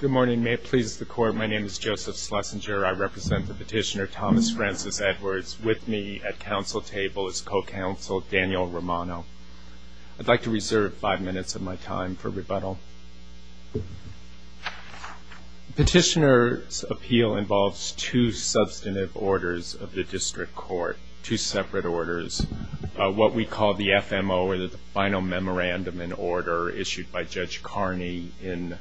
Good morning. May it please the court, my name is Joseph Schlesinger. I represent the petitioner Thomas Francis Edwards. With me at council table is co-counsel Daniel Romano. I'd like to reserve five minutes of my time for rebuttal. Petitioner's appeal involves two substantive orders of the district court. Two separate orders. What we call the FMO or the final memorandum in order issued by Judge Carney in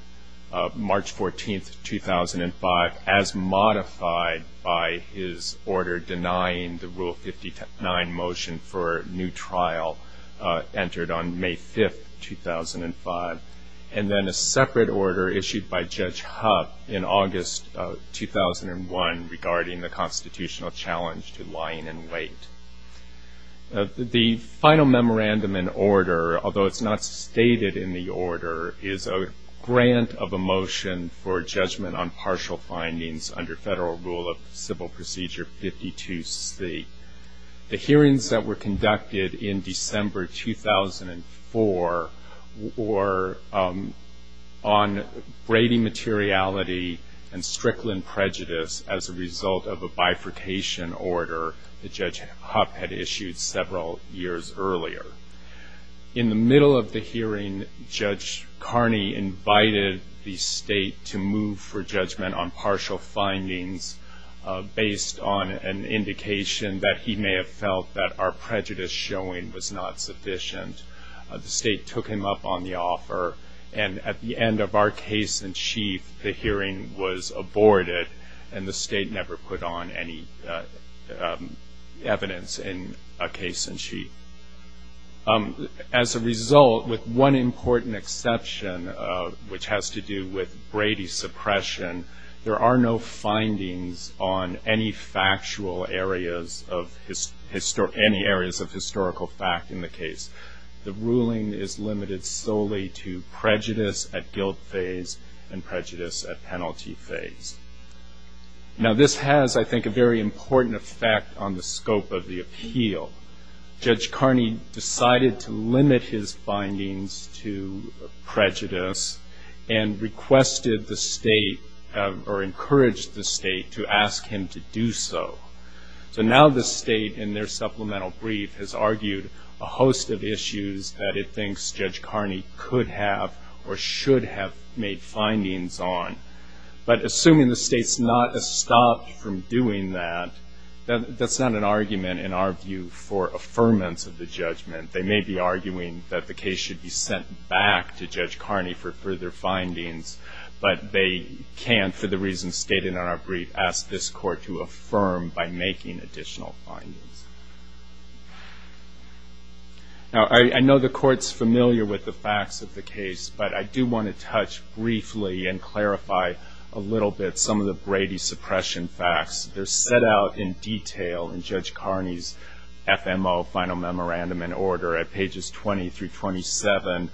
March 14, 2005 as modified by his order denying the Rule 59 motion for new trial entered on May 5, 2005. And then a separate order issued by Judge Huff in August 2001 regarding the constitutional challenge to lying in wait. The final memorandum in order, although it's not stated in the order, is a grant of a motion for judgment on partial findings under Federal Rule of Civil Procedure 52C. The hearings that were conducted in December 2004 were on Brady materiality and Strickland prejudice as a result of a bifurcation order that Judge Huff issued. In the middle of the hearing, Judge Carney invited the state to move for judgment on partial findings based on an indication that he may have felt that our prejudice showing was not sufficient. The state took him up on the offer and at the end of our case in chief, the hearing was aborted and the state never put on any evidence. As a result, with one important exception, which has to do with Brady's suppression, there are no findings on any factual areas of historical fact in the case. The ruling is limited solely to prejudice at guilt phase and prejudice at penalty phase. Now this has, I think, a very important effect on the scope of the appeal. Judge Carney decided to limit his findings to prejudice and requested the state or encouraged the state to ask him to do so. So now the state in their supplemental brief has argued a host of issues that it thinks Judge Carney could have or should have made findings on. But assuming the state's not stopped from doing that, that's not an argument, in our view, for affirmance of the judgment. They may be arguing that the case should be sent back to Judge Carney for further findings, but they can't, for the reasons stated in our brief, ask this court to affirm by making additional findings. Now I know the court's familiar with the facts of the case, but I do want to touch briefly and clarify a little bit some of the Brady suppression facts. They're set out in detail in Judge Carney's FMO, Final Memorandum and Order, at pages 20 through 27,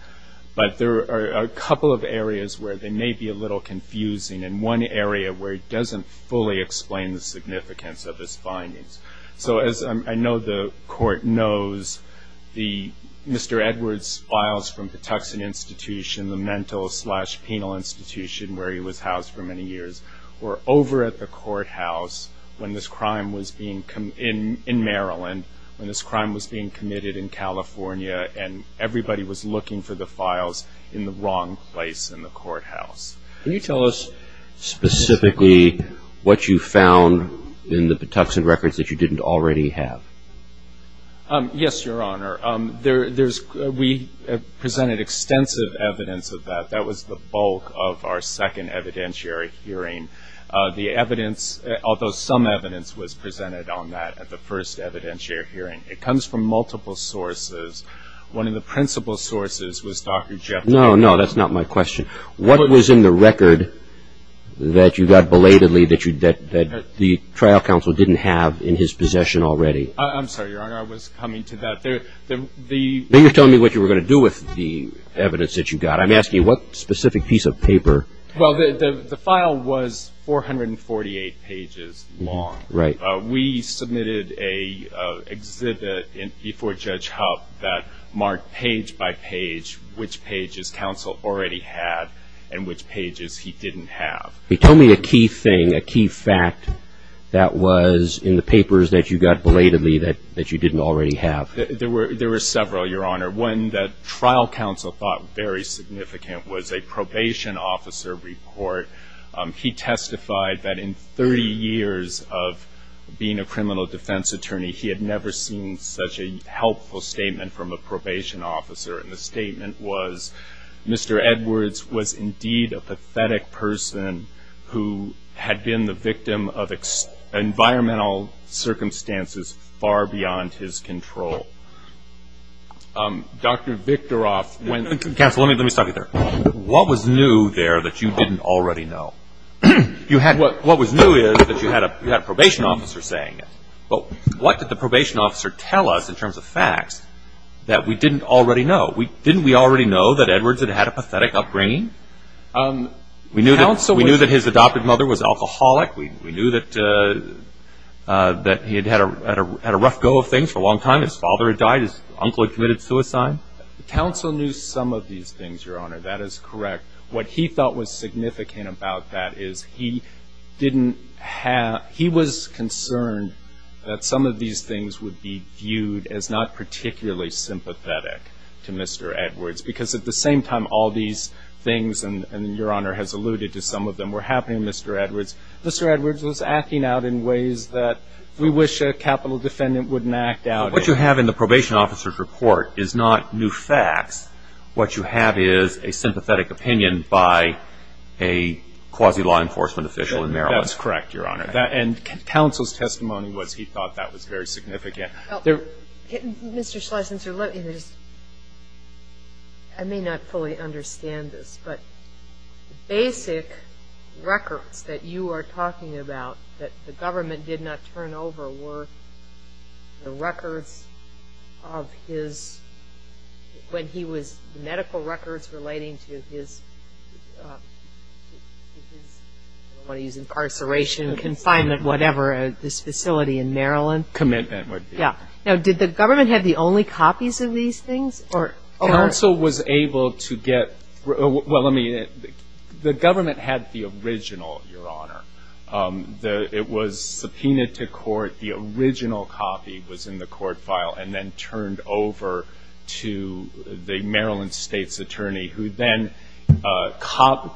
but there are a couple of areas where they may be a little confusing and one area where it doesn't fully explain the significance of his findings. So as I know the court knows, Mr. Edwards' files from Patuxent Institution, the mental slash penal institution where he was housed for many years, were over at the courthouse in Maryland when this crime was being committed in California and everybody was looking for the files in the wrong place in the courthouse. Can you tell us specifically what you found in the Patuxent records that you didn't already have? Yes, Your Honor. We presented extensive evidence of that. That was the bulk of our second evidentiary hearing. The evidence, although some evidence, was presented on that at the first evidentiary hearing. It comes from multiple sources. One of the principal sources was Dr. Jephthah. No, no, that's not my question. What was in the record that you got belatedly that the trial counsel didn't have in his possession already? I'm sorry, Your Honor. I was coming to that. Then you're telling me what you were going to do with the evidence that you got. I'm asking you what specific piece of paper? Well, the file was 448 pages long. We submitted an exhibit before Judge Hub that marked page by page which pages counsel already had and which pages he didn't have. Tell me a key thing, a key fact that was in the papers that you got belatedly that you didn't already have. There were several, Your Honor. One that trial counsel thought very significant was a probation officer report. He testified that in 30 years of being a criminal defense attorney, he had never seen such a helpful statement from a probation officer. The statement was, Mr. Edwards was indeed a pathetic person who had been the victim of environmental circumstances far beyond his control. Dr. Victoroff went- Counsel, let me stop you there. What was new there that you didn't already know? What was new is that you had a probation officer saying it. Well, what did the probation officer tell us in terms of facts that we didn't already know? Didn't we already know that Edwards had had a pathetic upbringing? We knew that his adopted mother was an alcoholic. We knew that he had had a rough go of things for a long time. His father had died. His uncle had committed suicide. Counsel knew some of these things, Your Honor. That is correct. What he thought was significant about that is he didn't have- he was concerned that some of these things would be viewed as not particularly sympathetic to Mr. Edwards. Because at the same time, all these things, and Your Honor has alluded to some of them, were happening to Mr. Edwards. Mr. Edwards was acting out in ways that we wish a capital defendant wouldn't act out in. What you have in the probation officer's report is not new facts. What you have is a sympathetic opinion by a quasi-law enforcement official in Maryland. That's correct, Your Honor. And Counsel's testimony was he thought that was very significant. Mr. Schlesinger, let me just- I may not fully understand this, but basic records that you are talking about that the government did not turn over were the records of his- when he was- medical records relating to his- I don't want to use incarceration, confinement, whatever, this facility in Maryland. Commitment would be. Yeah. Now, did the government have the only copies of these things? Counsel was able to get- well, let me- the government had the original, Your Honor. It was subpoenaed to court. The original copy was in the court file and then turned over to the Maryland State's attorney who then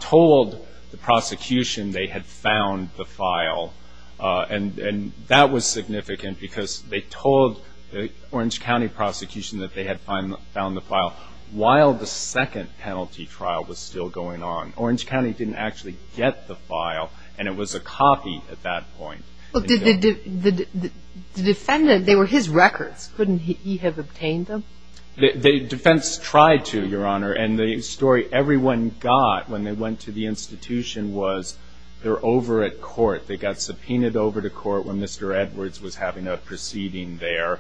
told the prosecution they had found the file. And that was significant because they told the Orange County prosecution that they had found the file while the second penalty trial was still going on. Orange County didn't actually get the file and it was a copy at that point. The defendant- they were his records. Couldn't he have obtained them? The defense tried to, Your Honor, and the story everyone got when they went to the institution was they're over at court. They got subpoenaed over to court when Mr. Edwards was having a proceeding there.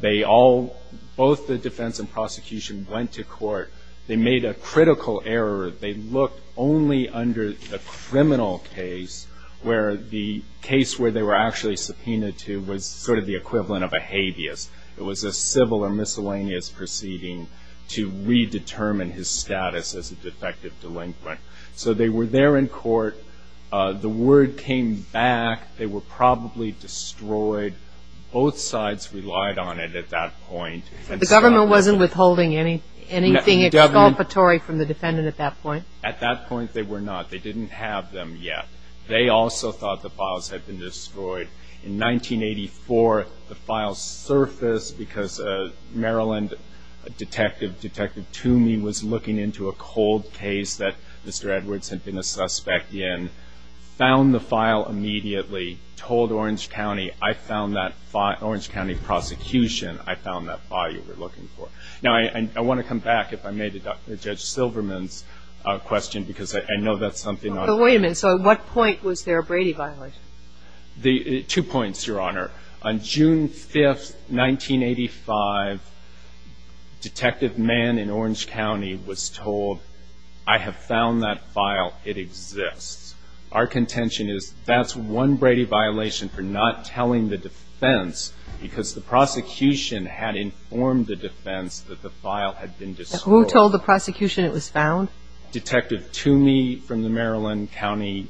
They all- both the defense and prosecution went to court. They made a critical error. They looked only under a criminal case where the case where they were actually subpoenaed to was sort of the equivalent of a habeas. It was a civil or miscellaneous proceeding to redetermine his status as a defective delinquent. So they were there in court. The word came back. They were probably destroyed. Both sides relied on it at that point. The government wasn't withholding anything exculpatory from the defendant at that point? They were not. They didn't have them yet. They also thought the files had been destroyed. In 1984, the files surfaced because a Maryland detective, Detective Toomey, was looking into a cold case that Mr. Edwards had been a suspect in, found the file immediately, told Orange County, I found that file- Orange County prosecution, I found that file you were looking for. Now, I want to come back, if I may, to Judge Silverman's question because I know that's something- But wait a minute. So at what point was there a Brady violation? Two points, Your Honor. On June 5th, 1985, Detective Mann in Orange County was told, I have found that file. It exists. Our contention is that's one Brady violation for not telling the defense because the prosecution had informed the defense that it existed. Who told the prosecution it was found? Detective Toomey from the Maryland County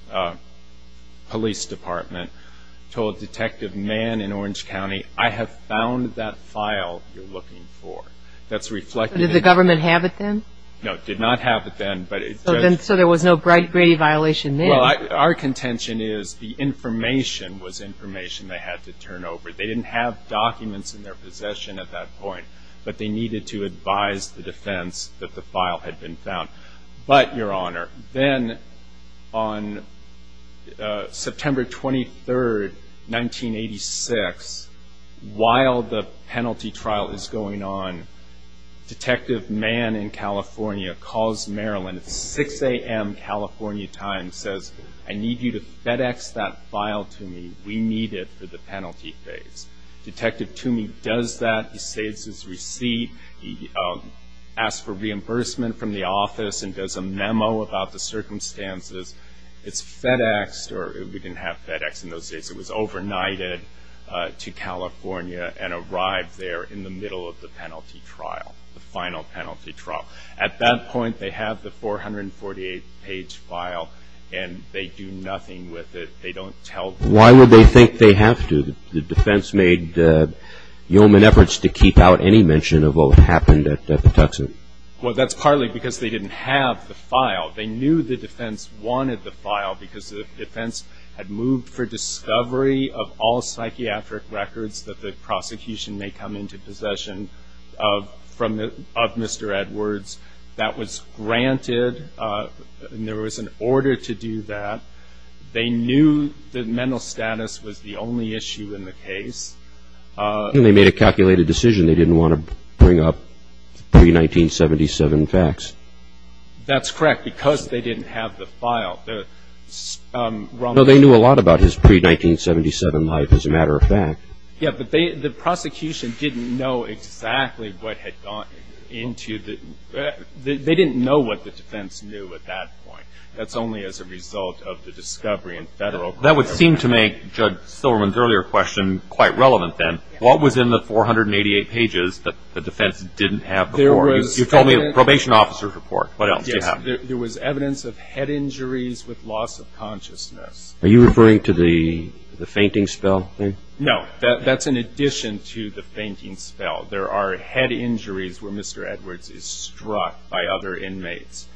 Police Department told Detective Mann in Orange County, I have found that file you're looking for. That's reflected in- Did the government have it then? No, it did not have it then. So there was no Brady violation then? Well, our contention is the information was information they had to turn over. They didn't have documents in their possession at that point, but they needed to turn it over. They needed to advise the defense that the file had been found. But, Your Honor, then on September 23rd, 1986, while the penalty trial is going on, Detective Mann in California calls Maryland at 6 a.m. California time and says, I need you to FedEx that file to me. We need it for the penalty phase. Detective Toomey does that. He saves his receipt. He asks for reimbursement from the office and does a memo about the circumstances. It's FedExed, or we didn't have FedEx in those days. It was overnighted to California and arrived there in the middle of the penalty trial, the final penalty trial. At that point, they have the 448-page file and they do nothing with it. They don't tell the defense. I don't think they have to. The defense made yeoman efforts to keep out any mention of what happened at Patuxent. Well, that's partly because they didn't have the file. They knew the defense wanted the file because the defense had moved for discovery of all psychiatric records that the prosecution may come into possession of Mr. Edwards. That was granted. There was an order to do that. They knew that mental status was the only issue in the case. And they made a calculated decision. They didn't want to bring up pre-1977 facts. That's correct, because they didn't have the file. No, they knew a lot about his pre-1977 life, as a matter of fact. Yes, but the prosecution didn't know exactly what had gone into the – they didn't know what the defense knew at that point. That's only as a result of the discovery and federal – That would seem to make Judge Silverman's earlier question quite relevant then. What was in the 488 pages that the defense didn't have before? You told me a probation officer's report. What else did you have? Yes, there was evidence of head injuries with loss of consciousness. Are you referring to the fainting spell thing? No, that's in addition to the fainting spell. There are head injuries where Mr. Edwards is struck by other inmates.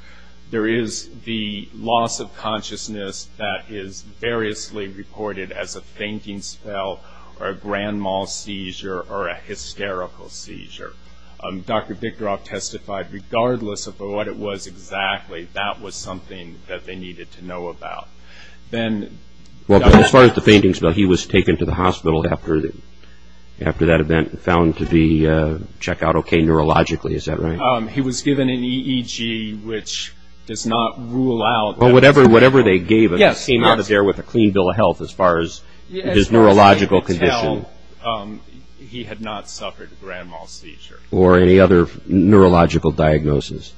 There is the loss of consciousness that is variously reported as a fainting spell or a grand mal seizure or a hysterical seizure. Dr. Bickdorf testified regardless of what it was exactly, that was something that they needed to know about. As far as the fainting spell, he was taken to the hospital after that event and found to be – check out okay neurologically, is that right? He was given an EEG, which does not rule out – Whatever they gave him came out of there with a clean bill of health as far as his neurological condition. As far as they could tell, he had not suffered a grand mal seizure. Or any other neurological diagnosis?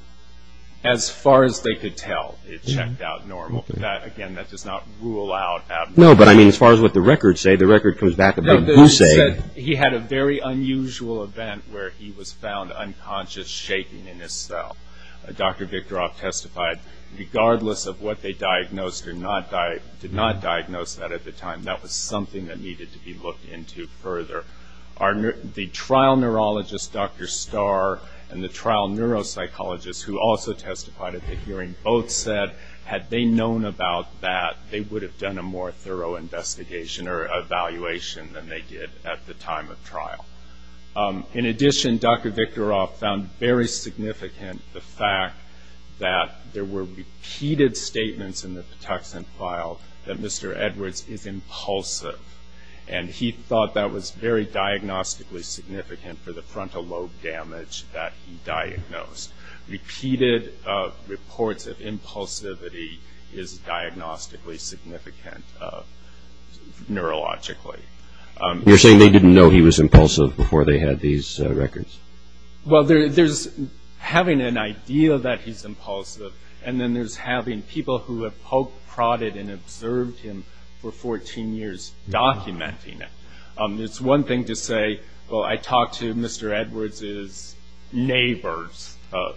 As far as they could tell, it checked out normal. Again, that does not rule out abnormal. No, but I mean as far as what the records say, the record comes back about – He had a very unusual event where he was found unconscious, shaking in his cell. Dr. Bickdorf testified regardless of what they diagnosed or did not diagnose that at the time, that was something that needed to be looked into further. The trial neurologist, Dr. Starr, and the trial neuropsychologist who also testified at the hearing both said, had they known about that, they would have done a more thorough investigation or evaluation than they did at the time of trial. In addition, Dr. Bickdorf found very significant the fact that there were repeated statements in the Patuxent file that Mr. Edwards is impulsive. And he thought that was very diagnostically significant for the frontal lobe damage that he diagnosed. Repeated reports of impulsivity is diagnostically significant neurologically. You're saying they didn't know he was impulsive before they had these records? Well, there's having an idea that he's impulsive, and then there's having people who have poke-prodded and observed him for 14 years documenting it. It's one thing to say, well, I talked to Mr. Edwards' neighbors,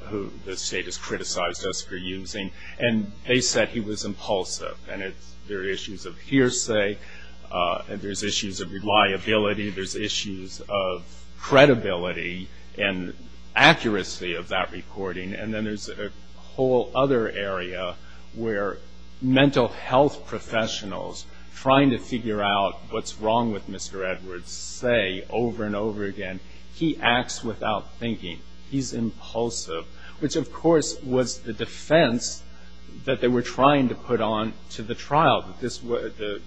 who the state has criticized us for using, and they said he was impulsive. And there are issues of hearsay, and there's issues of reliability, there's issues of credibility and accuracy of that recording. And then there's a whole other area where mental health professionals trying to figure out what's wrong with Mr. Edwards say over and over again, he acts without thinking, he's impulsive, which, of course, was the defense that they were trying to put on to the trial, the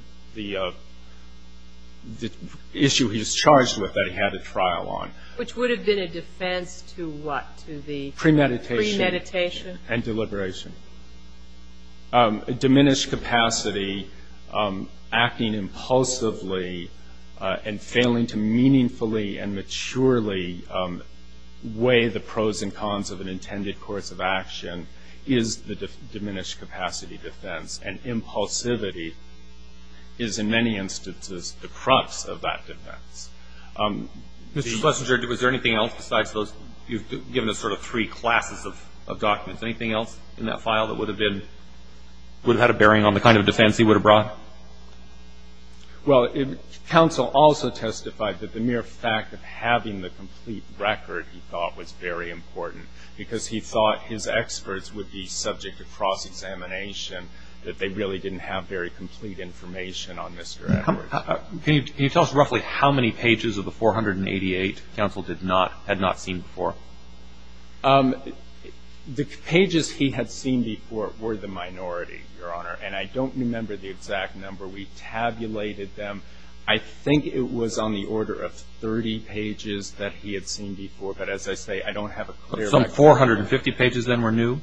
issue he was charged with that he had a trial on. Which would have been a defense to what? Premeditation. Premeditation. And deliberation. Diminished capacity, acting impulsively and failing to meaningfully and maturely weigh the pros and cons of an intended course of action is the diminished capacity defense. And impulsivity is, in many instances, the crux of that defense. Mr. Schlesinger, was there anything else besides those, you've given us sort of three classes of documents, anything else in that file that would have been, would have had a bearing on the kind of defense he would have brought? Well, counsel also testified that the mere fact of having the complete record, he thought, was very important because he thought his experts would be subject to cross-examination, that they really didn't have very complete information on Mr. Edwards. Can you tell us roughly how many pages of the 488 counsel had not seen before? The pages he had seen before were the minority, Your Honor, and I don't remember the exact number. We tabulated them. I think it was on the order of 30 pages that he had seen before. But as I say, I don't have a clear record. Some 450 pages then were new?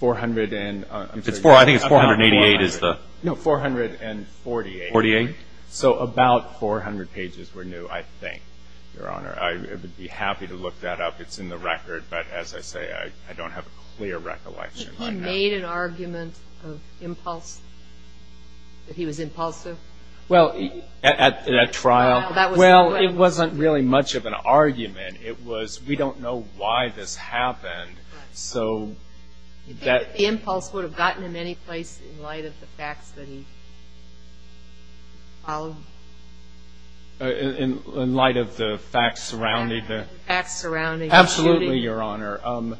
Four hundred and, I'm sorry. I think it's 488 is the. No, 448. So about 400 pages were new, I think, Your Honor. I would be happy to look that up. It's in the record, but as I say, I don't have a clear recollection on that. He made an argument of impulse, that he was impulsive? Well, at trial? Well, it wasn't really much of an argument. It was we don't know why this happened, so that. The impulse would have gotten him any place in light of the facts that he followed? In light of the facts surrounding the. The facts surrounding. Absolutely, Your Honor.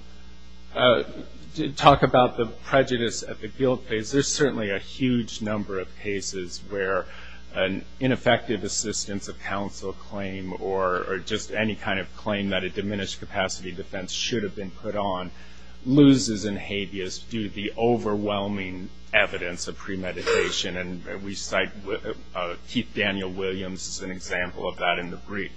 To talk about the prejudice at the guilt phase, there's certainly a huge number of cases where an ineffective assistance of counsel claim or just any kind of claim that a diminished capacity defense should have been put on, loses and habeas due to the overwhelming evidence of premeditation. And we cite Keith Daniel Williams as an example of that in the brief.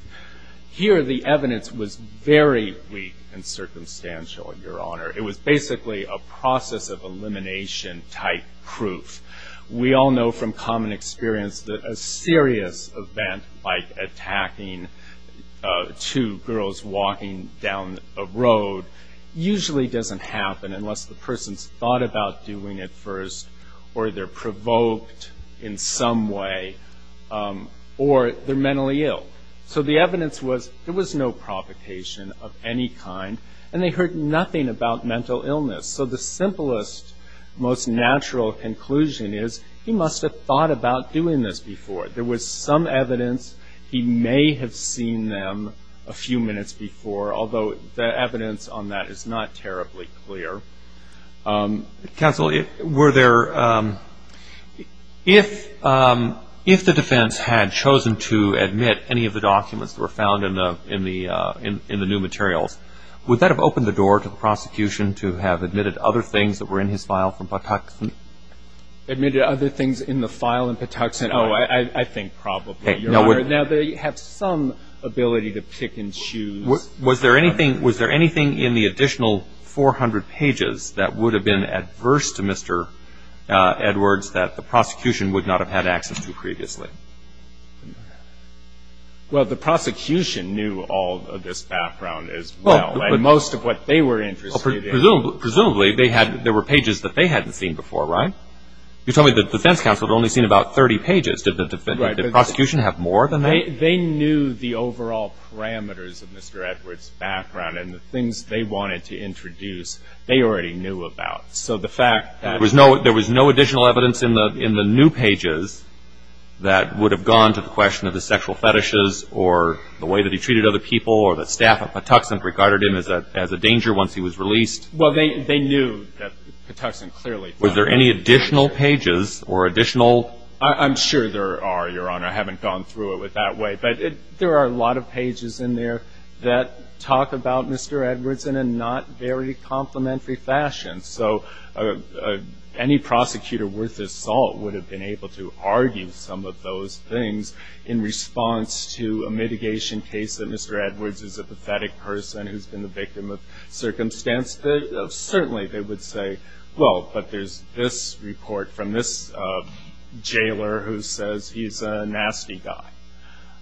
Here the evidence was very weak and circumstantial, Your Honor. It was basically a process of elimination type proof. We all know from common experience that a serious event like attacking two girls walking down a road, usually doesn't happen unless the person's thought about doing it first, or they're provoked in some way, or they're mentally ill. So the evidence was there was no provocation of any kind, and they heard nothing about mental illness. So the simplest, most natural conclusion is he must have thought about doing this before. There was some evidence he may have seen them a few minutes before, although the evidence on that is not terribly clear. Counsel, were there ‑‑ if the defense had chosen to admit any of the documents that were found in the new materials, would that have opened the door to the prosecution to have admitted other things that were in his file from Patuxent? Admitted other things in the file in Patuxent? Oh, I think probably, Your Honor. Now they have some ability to pick and choose. Was there anything in the additional 400 pages that would have been adverse to Mr. Edwards that the prosecution would not have had access to previously? Well, the prosecution knew all of this background as well, and most of what they were interested in. Presumably, there were pages that they hadn't seen before, right? You told me the defense counsel had only seen about 30 pages. Did the prosecution have more than that? They knew the overall parameters of Mr. Edwards' background and the things they wanted to introduce they already knew about. So the fact that ‑‑ There was no additional evidence in the new pages that would have gone to the question of the sexual fetishes or the way that he treated other people or that staff at Patuxent regarded him as a danger once he was released? Well, they knew that Patuxent clearly ‑‑ Was there any additional pages or additional ‑‑ I'm sure there are, Your Honor. I haven't gone through it that way. But there are a lot of pages in there that talk about Mr. Edwards in a not very complimentary fashion. So any prosecutor worth his salt would have been able to argue some of those things in response to a mitigation case that Mr. Edwards is a pathetic person who's been the victim of circumstance. Certainly they would say, well, but there's this report from this jailer who says he's a nasty guy.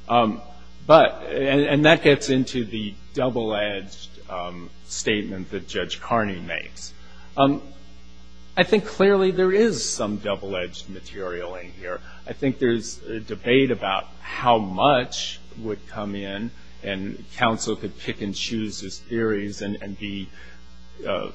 But ‑‑ and that gets into the double‑edged statement that Judge Carney makes. I think clearly there is some double‑edged material in here. I think there's debate about how much would come in and counsel could pick and choose his theories and be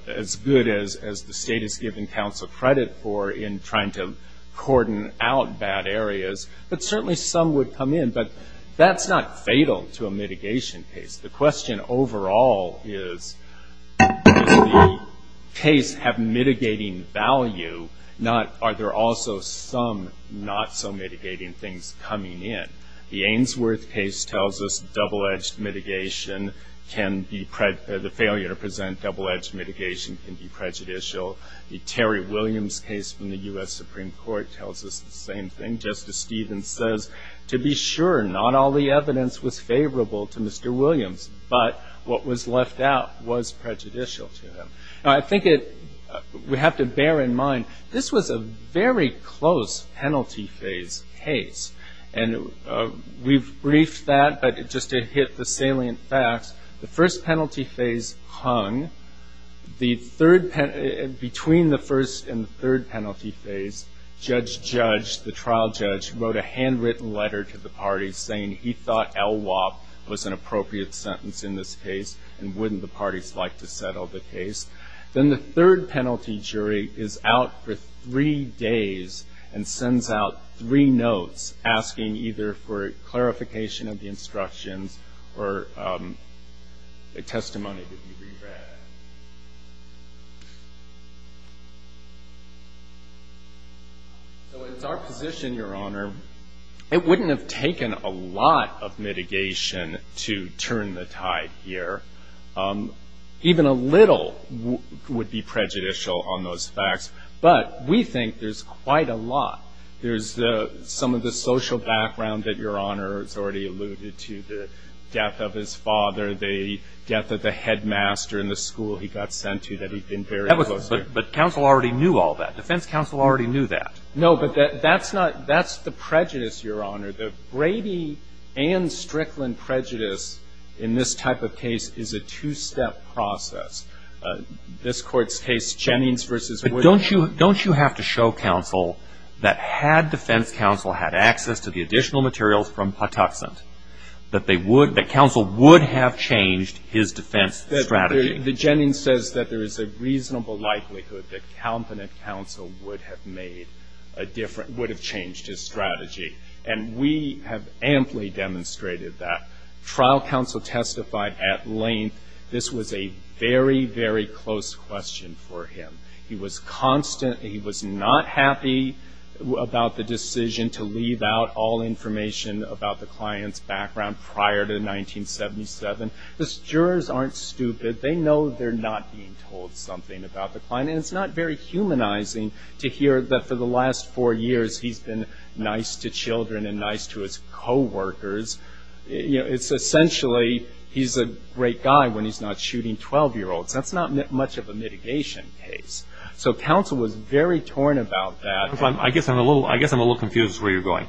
as good as the state has given counsel credit for in trying to cordon out bad areas. But certainly some would come in. But that's not fatal to a mitigation case. The question overall is, does the case have mitigating value? Are there also some not so mitigating things coming in? The Ainsworth case tells us double‑edged mitigation can be ‑‑ the failure to present double‑edged mitigation can be prejudicial. The Terry Williams case from the U.S. Supreme Court tells us the same thing. Justice Stevens says, to be sure, not all the evidence was favorable to Mr. Williams, but what was left out was prejudicial to him. I think we have to bear in mind this was a very close penalty phase case. And we've briefed that, but just to hit the salient facts, the first penalty phase hung. The third ‑‑ between the first and third penalty phase, Judge Judge, the trial judge, wrote a handwritten letter to the parties saying he thought LWOP was an appropriate sentence in this case and wouldn't the parties like to settle the case. Then the third penalty jury is out for three days and sends out three notes asking either for clarification of the instructions or a testimony to be re‑read. So it's our position, Your Honor, it wouldn't have taken a lot of mitigation to turn the tide here. Even a little would be prejudicial on those facts. But we think there's quite a lot. There's some of the social background that Your Honor has already alluded to, the death of his father, the death of the headmaster in the school he got sent to that he'd been very close to. But counsel already knew all that. Defense counsel already knew that. No, but that's not ‑‑ that's the prejudice, Your Honor. The Brady and Strickland prejudice in this type of case is a two‑step process. This Court's case, Jennings v. Wood. But don't you have to show counsel that had defense counsel had access to the additional materials from Patuxent, that they would, that counsel would have changed his defense strategy? The Jennings says that there is a reasonable likelihood that competent counsel would have made a different, would have changed his strategy. And we have amply demonstrated that. Trial counsel testified at length. This was a very, very close question for him. He was constant. He was not happy about the decision to leave out all information about the client's background prior to 1977. Because jurors aren't stupid. They know they're not being told something about the client. And it's not very humanizing to hear that for the last four years he's been nice to children and nice to his coworkers. It's essentially he's a great guy when he's not shooting 12‑year‑olds. That's not much of a mitigation case. So counsel was very torn about that. I guess I'm a little confused as to where you're going.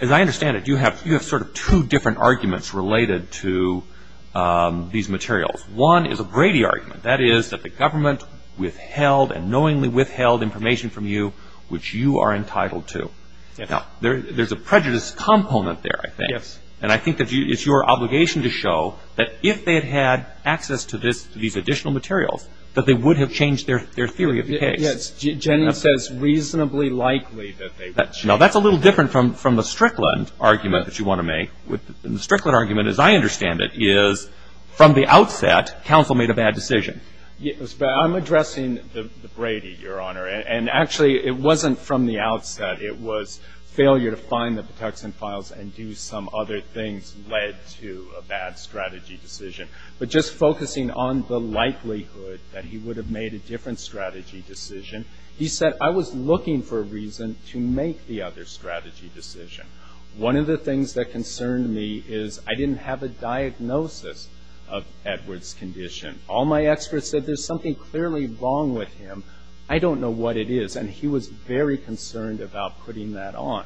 As I understand it, you have sort of two different arguments related to these materials. One is a Brady argument. That is that the government withheld and knowingly withheld information from you which you are entitled to. There's a prejudice component there, I think. Yes. And I think it's your obligation to show that if they had had access to these additional materials, that they would have changed their theory of the case. Yes. Jennings says reasonably likely that they would. Now, that's a little different from the Strickland argument that you want to make. The Strickland argument, as I understand it, is from the outset counsel made a bad decision. I'm addressing the Brady, Your Honor. And actually it wasn't from the outset. It was failure to find the Patuxent files and do some other things led to a bad strategy decision. But just focusing on the likelihood that he would have made a different strategy decision, he said, I was looking for a reason to make the other strategy decision. One of the things that concerned me is I didn't have a diagnosis of Edward's condition. All my experts said there's something clearly wrong with him. I don't know what it is. And he was very concerned about putting that on.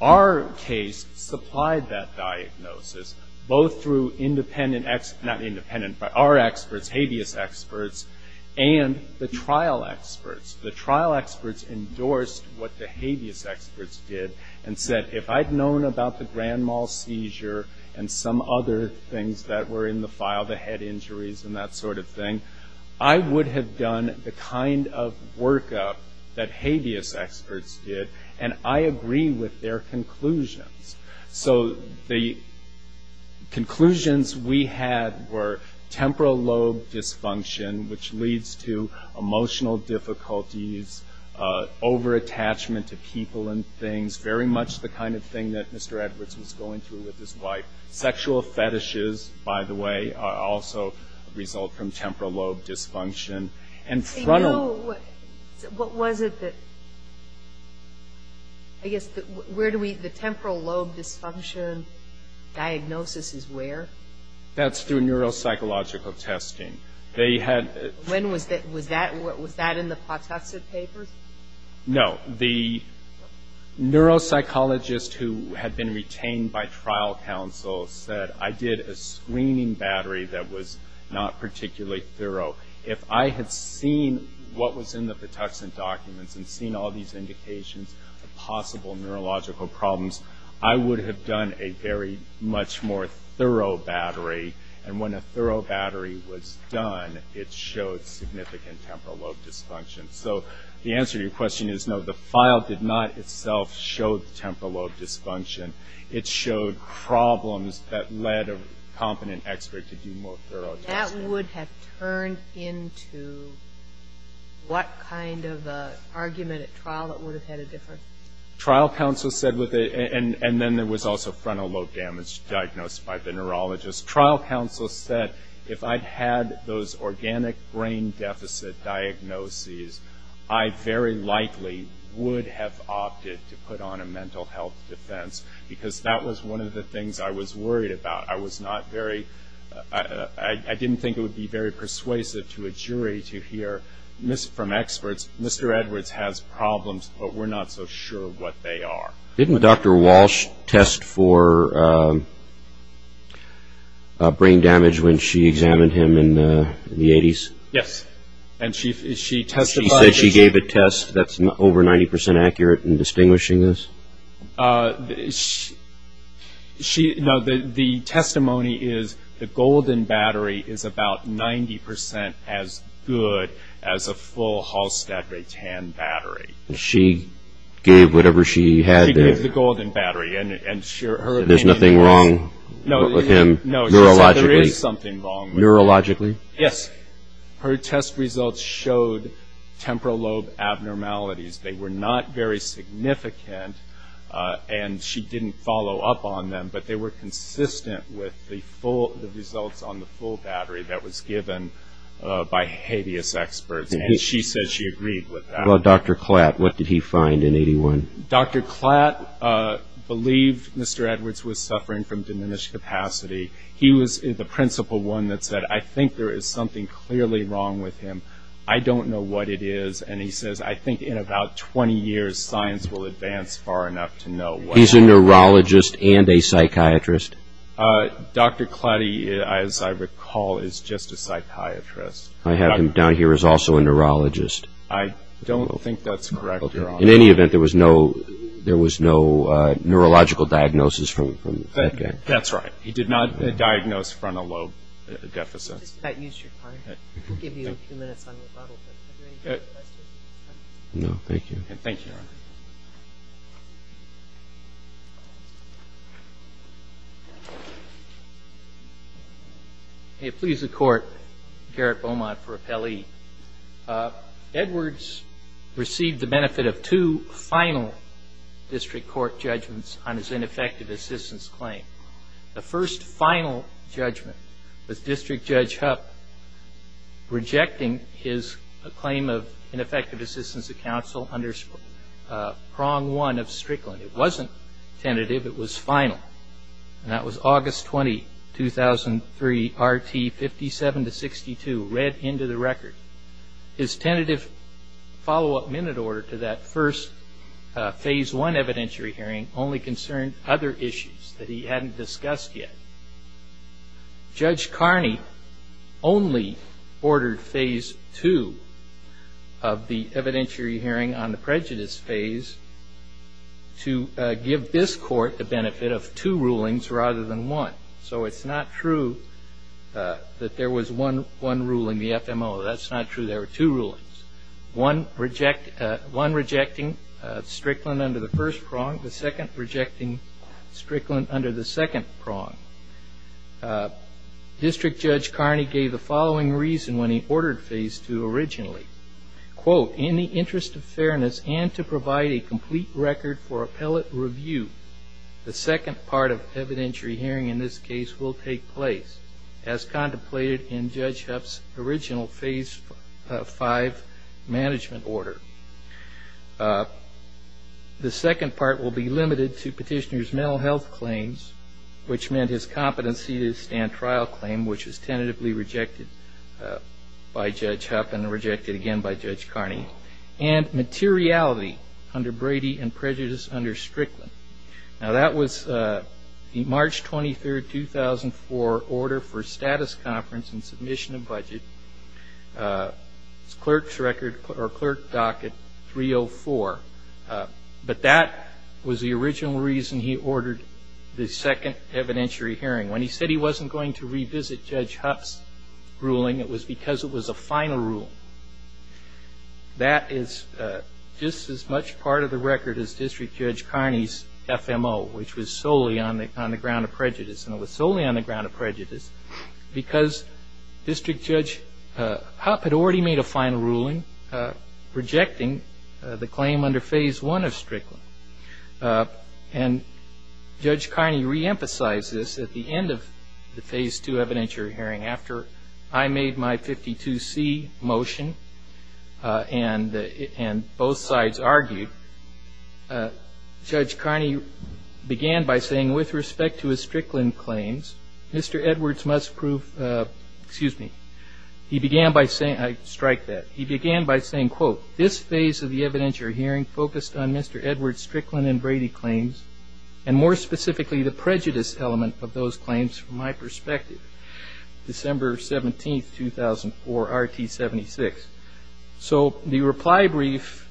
Our case supplied that diagnosis both through independent, not independent, but our experts, habeas experts, and the trial experts. The trial experts endorsed what the habeas experts did and said, if I'd known about the Grand Mall seizure and some other things that were in the file, the head injuries and that sort of thing, I would have done the kind of workup that habeas experts did. And I agree with their conclusions. So the conclusions we had were temporal lobe dysfunction, which leads to emotional difficulties, overattachment to people and things, very much the kind of thing that Mr. Edwards was going through with his wife. Sexual fetishes, by the way, also result from temporal lobe dysfunction. And frontal. You know, what was it that, I guess, where do we, the temporal lobe dysfunction diagnosis is where? That's through neuropsychological testing. They had. When was that, was that in the Patuxent papers? No. The neuropsychologist who had been retained by trial counsel said, I did a screening battery that was not particularly thorough. If I had seen what was in the Patuxent documents and seen all these indications of possible neurological problems, I would have done a very much more thorough battery. And when a thorough battery was done, it showed significant temporal lobe dysfunction. So the answer to your question is no, the file did not itself show temporal lobe dysfunction. It showed problems that led a competent expert to do more thorough testing. That would have turned into what kind of argument at trial that would have had a difference? Trial counsel said, and then there was also frontal lobe damage diagnosed by the neurologist. Trial counsel said, if I'd had those organic brain deficit diagnoses, I very likely would have opted to put on a mental health defense because that was one of the things I was worried about. I was not very, I didn't think it would be very persuasive to a jury to hear from experts, Mr. Edwards has problems, but we're not so sure what they are. Didn't Dr. Walsh test for brain damage when she examined him in the 80s? Yes. She said she gave a test that's over 90% accurate in distinguishing this? The testimony is the golden battery is about 90% as good as a full Halstead Ray-Tan battery. She gave whatever she had there. She gave the golden battery. There's nothing wrong with him neurologically? No, she said there is something wrong with him. Neurologically? Yes. Her test results showed temporal lobe abnormalities. They were not very significant, and she didn't follow up on them, but they were consistent with the results on the full battery that was given by habeas experts, and she said she agreed with that. What about Dr. Klatt? What did he find in 81? Dr. Klatt believed Mr. Edwards was suffering from diminished capacity. He was the principal one that said, I think there is something clearly wrong with him. I don't know what it is, and he says, I think in about 20 years science will advance far enough to know what it is. He's a neurologist and a psychiatrist? Dr. Klatt, as I recall, is just a psychiatrist. I have him down here as also a neurologist. I don't think that's correct, Your Honor. In any event, there was no neurological diagnosis from that guy. That's right. He did not diagnose frontal lobe deficits. Mr. Klatt, use your card. I'll give you a few minutes on rebuttal, but are there any further questions? No, thank you. Thank you, Your Honor. May it please the Court, Garrett Beaumont for appellee. Edwards received the benefit of two final district court judgments on his ineffective assistance claim. The first final judgment was District Judge Hupp rejecting his claim of ineffective assistance to counsel under prong one of Strickland. It wasn't tentative. It was final, and that was August 20, 2003, R.T. 57-62, read into the record. His tentative follow-up minute order to that first phase one evidentiary hearing only concerned other issues that he hadn't discussed yet. Judge Carney only ordered phase two of the evidentiary hearing on the prejudice phase to give this Court the benefit of two rulings rather than one. So it's not true that there was one ruling, the FMO. That's not true. There were two rulings, one rejecting Strickland under the first prong, the second rejecting Strickland under the second prong. District Judge Carney gave the following reason when he ordered phase two originally, quote, In the interest of fairness and to provide a complete record for appellate review, the second part of evidentiary hearing in this case will take place, as contemplated in Judge Hupp's original phase five management order. The second part will be limited to petitioner's mental health claims, which meant his competency to stand trial claim, which was tentatively rejected by Judge Hupp and rejected again by Judge Carney, and materiality under Brady and prejudice under Strickland. Now, that was the March 23, 2004, order for status conference and submission of budget. It's clerk's record or clerk docket 304, but that was the original reason he ordered the second evidentiary hearing. When he said he wasn't going to revisit Judge Hupp's ruling, it was because it was a final rule. That is just as much part of the record as District Judge Carney's FMO, which was solely on the ground of prejudice, and it was solely on the ground of prejudice, because District Judge Hupp had already made a final ruling, rejecting the claim under phase one of Strickland. And Judge Carney reemphasized this at the end of the phase two evidentiary hearing. After I made my 52C motion and both sides argued, Judge Carney began by saying, with respect to his Strickland claims, Mr. Edwards must prove, excuse me, he began by saying, I strike that, he began by saying, quote, this phase of the evidentiary hearing focused on Mr. Edwards' Strickland and Brady claims, and more specifically the prejudice element of those claims from my perspective. December 17, 2004, RT 76. So the reply brief,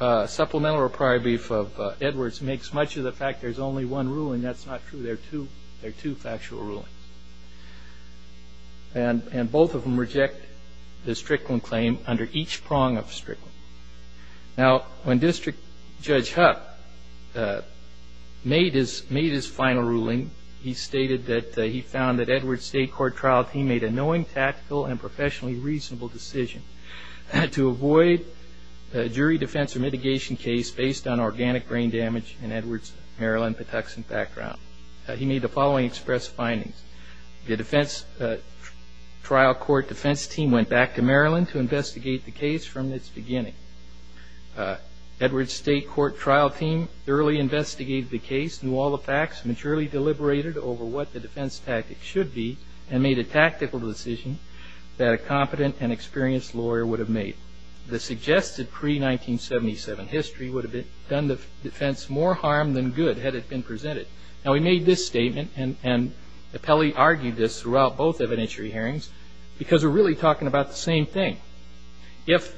supplemental reply brief of Edwards, makes much of the fact there's only one ruling. That's not true. There are two factual rulings. And both of them reject the Strickland claim under each prong of Strickland. Now, when District Judge Hupp made his final ruling, he stated that he found that Edwards' state court trial, he made a knowing, tactical, and professionally reasonable decision to avoid jury defense or mitigation case based on organic brain damage in Edwards' Maryland Patuxent background. He made the following express findings. The defense trial court defense team went back to Maryland to investigate the case from its beginning. Edwards' state court trial team thoroughly investigated the case, knew all the facts, maturely deliberated over what the defense tactic should be, and made a tactical decision that a competent and experienced lawyer would have made. The suggested pre-1977 history would have done the defense more harm than good had it been presented. Now, he made this statement, and Appelli argued this throughout both evidentiary hearings, because we're really talking about the same thing. If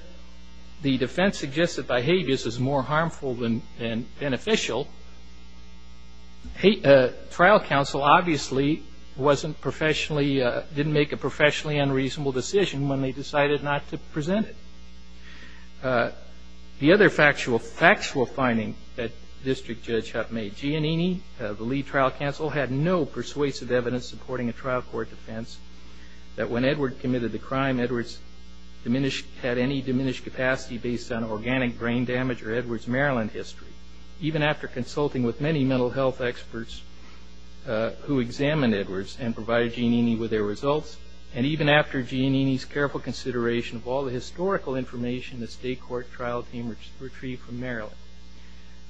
the defense suggested behaviors is more harmful than beneficial, trial counsel obviously didn't make a professionally unreasonable decision when they decided not to present it. The other factual finding that District Judge Hupp made, Giannini, the lead trial counsel, had no persuasive evidence supporting a trial court defense that when Edwards committed the crime, Edwards had any diminished capacity based on organic brain damage or Edwards' Maryland history. Even after consulting with many mental health experts who examined Edwards and provided Giannini with their results, and even after Giannini's careful consideration of all the historical information the state court trial team retrieved from Maryland,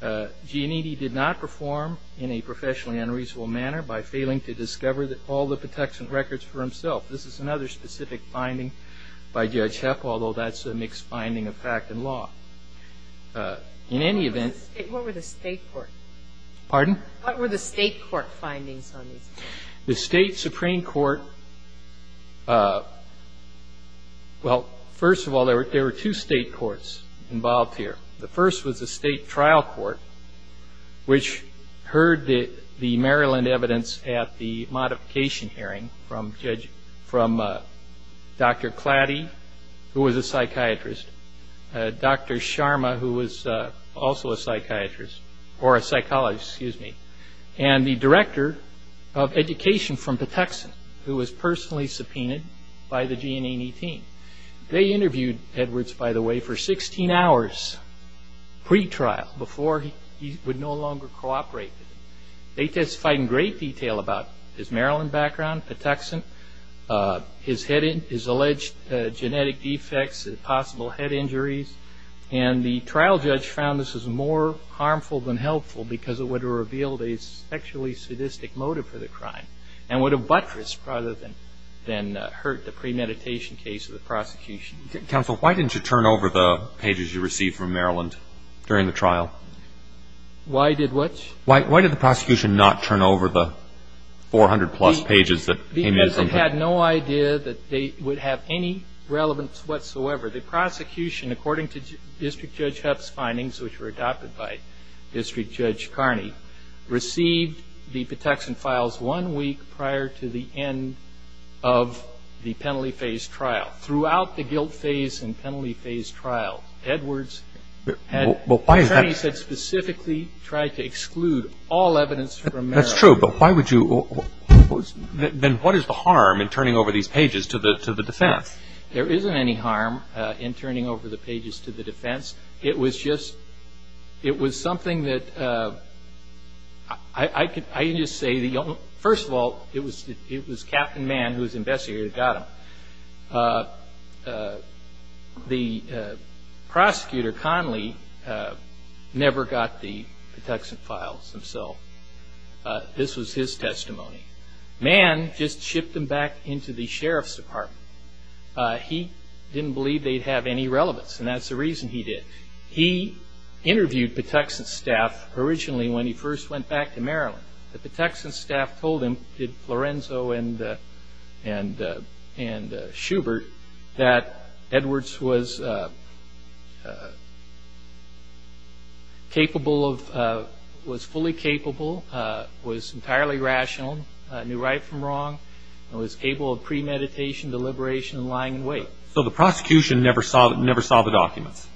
Giannini did not perform in a professionally unreasonable manner by failing to discover all the protection records for himself. This is another specific finding by Judge Hupp, although that's a mixed finding of fact and law. In any event... What were the state court... Pardon? What were the state court findings on these cases? The state supreme court, well, first of all, there were two state courts involved here. The first was the state trial court, which heard the Maryland evidence at the modification hearing from Judge, from Dr. Clady, who was a psychiatrist, Dr. Sharma, who was also a psychiatrist, or a psychologist, excuse me, and the director of education from Patuxent, who was personally subpoenaed by the Giannini team. They interviewed Edwards, by the way, for 16 hours pre-trial before he would no longer cooperate. They testified in great detail about his Maryland background, Patuxent, his alleged genetic defects, possible head injuries, and the trial judge found this was more harmful than helpful because it would have revealed a sexually sadistic motive for the crime and would have buttressed rather than hurt the premeditation case of the prosecution. Counsel, why didn't you turn over the pages you received from Maryland during the trial? Why did what? Why did the prosecution not turn over the 400-plus pages that came in? Because it had no idea that they would have any relevance whatsoever. The prosecution, according to District Judge Huff's findings, which were adopted by District Judge Carney, received the Patuxent files one week prior to the end of the penalty phase trial. Throughout the guilt phase and penalty phase trial, Edwards had, as Carney said, specifically tried to exclude all evidence from Maryland. That's true, but why would you? Then what is the harm in turning over these pages to the defense? There isn't any harm in turning over the pages to the defense. It was just something that I can just say, first of all, it was Captain Mann, who was investigator, who got them. The prosecutor, Conley, never got the Patuxent files himself. This was his testimony. Mann just shipped them back into the Sheriff's Department. He didn't believe they'd have any relevance, and that's the reason he did. He interviewed Patuxent staff originally when he first went back to Maryland. The Patuxent staff told him, did Lorenzo and Schubert, that Edwards was fully capable, was entirely rational, knew right from wrong, and was capable of premeditation, deliberation, and lying in wait. So the prosecution never saw the documents?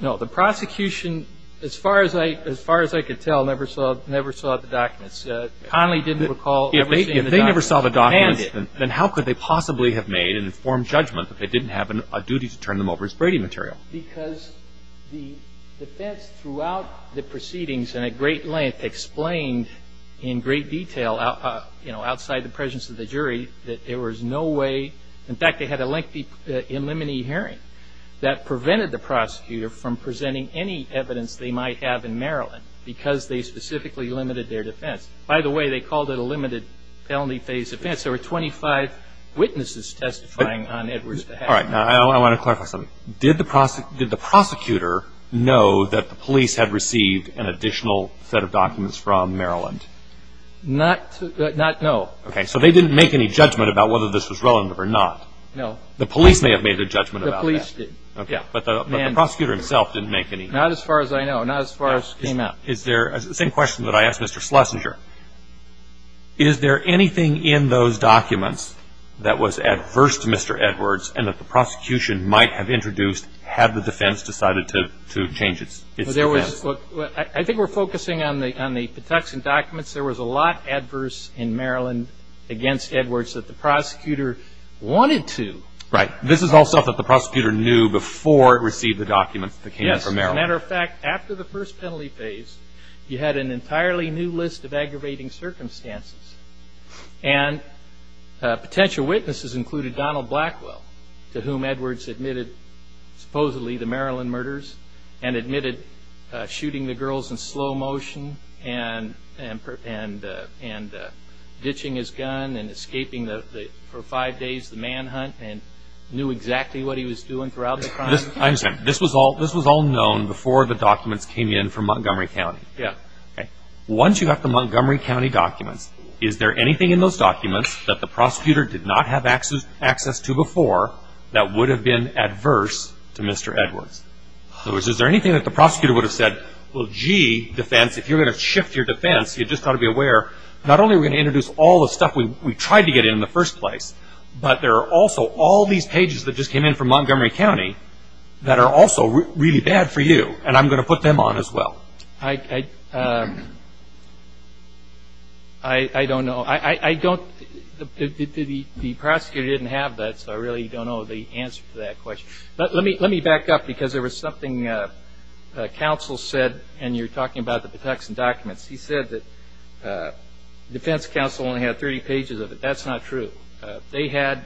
No. The prosecution, as far as I could tell, never saw the documents. Conley didn't recall ever seeing the documents. If they never saw the documents, then how could they possibly have made an informed judgment if they didn't have a duty to turn them over as Brady material? Because the defense throughout the proceedings and at great length explained in great detail outside the presence of the jury that there was no way, in fact they had a lengthy in limine hearing, that prevented the prosecutor from presenting any evidence they might have in Maryland because they specifically limited their defense. By the way, they called it a limited felony phase defense. There were 25 witnesses testifying on Edwards' behalf. I want to clarify something. Did the prosecutor know that the police had received an additional set of documents from Maryland? Not know. Okay. So they didn't make any judgment about whether this was relevant or not? No. The police may have made a judgment about that. The police did. Okay. But the prosecutor himself didn't make any. Not as far as I know. Not as far as came out. The same question that I asked Mr. Schlesinger. Is there anything in those documents that was adverse to Mr. Edwards and that the prosecution might have introduced had the defense decided to change its defense? I think we're focusing on the Patuxent documents. There was a lot adverse in Maryland against Edwards that the prosecutor wanted to. Right. This is all stuff that the prosecutor knew before it received the documents that came in from Maryland. Yes. As a matter of fact, after the first penalty phase, you had an entirely new list of aggravating circumstances. And potential witnesses included Donald Blackwell, to whom Edwards admitted supposedly the Maryland murders and admitted shooting the girls in slow motion and ditching his gun and escaping for five days the manhunt and knew exactly what he was doing throughout the crime. I understand. This was all known before the documents came in from Montgomery County. Yes. Okay. Once you got the Montgomery County documents, is there anything in those documents that the prosecutor did not have access to before that would have been adverse to Mr. Edwards? In other words, is there anything that the prosecutor would have said, well, gee, defense, if you're going to shift your defense, you've just got to be aware, not only are we going to introduce all the stuff we tried to get in in the first place, but there are also all these pages that just came in from Montgomery County that are also really bad for you, and I'm going to put them on as well. I don't know. The prosecutor didn't have that, so I really don't know the answer to that question. Let me back up because there was something counsel said, and you're talking about the Patuxent documents. He said that defense counsel only had 30 pages of it. That's not true. They had,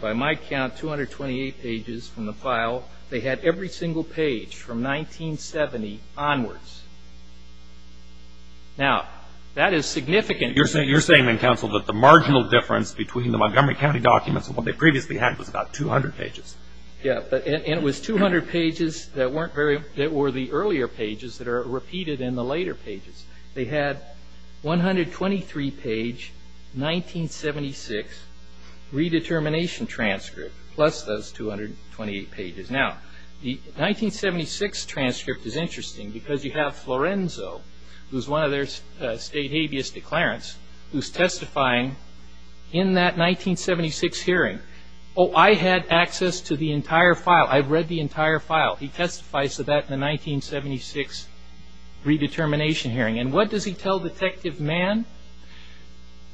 by my count, 228 pages from the file. They had every single page from 1970 onwards. Now, that is significant. You're saying then, counsel, that the marginal difference between the Montgomery County documents and what they previously had was about 200 pages. Yeah, and it was 200 pages that were the earlier pages that are repeated in the later pages. They had 123-page 1976 redetermination transcript plus those 228 pages. Now, the 1976 transcript is interesting because you have Florenzo, who's one of their state habeas declarants, who's testifying in that 1976 hearing. Oh, I had access to the entire file. I've read the entire file. He testifies to that in the 1976 redetermination hearing. And what does he tell Detective Mann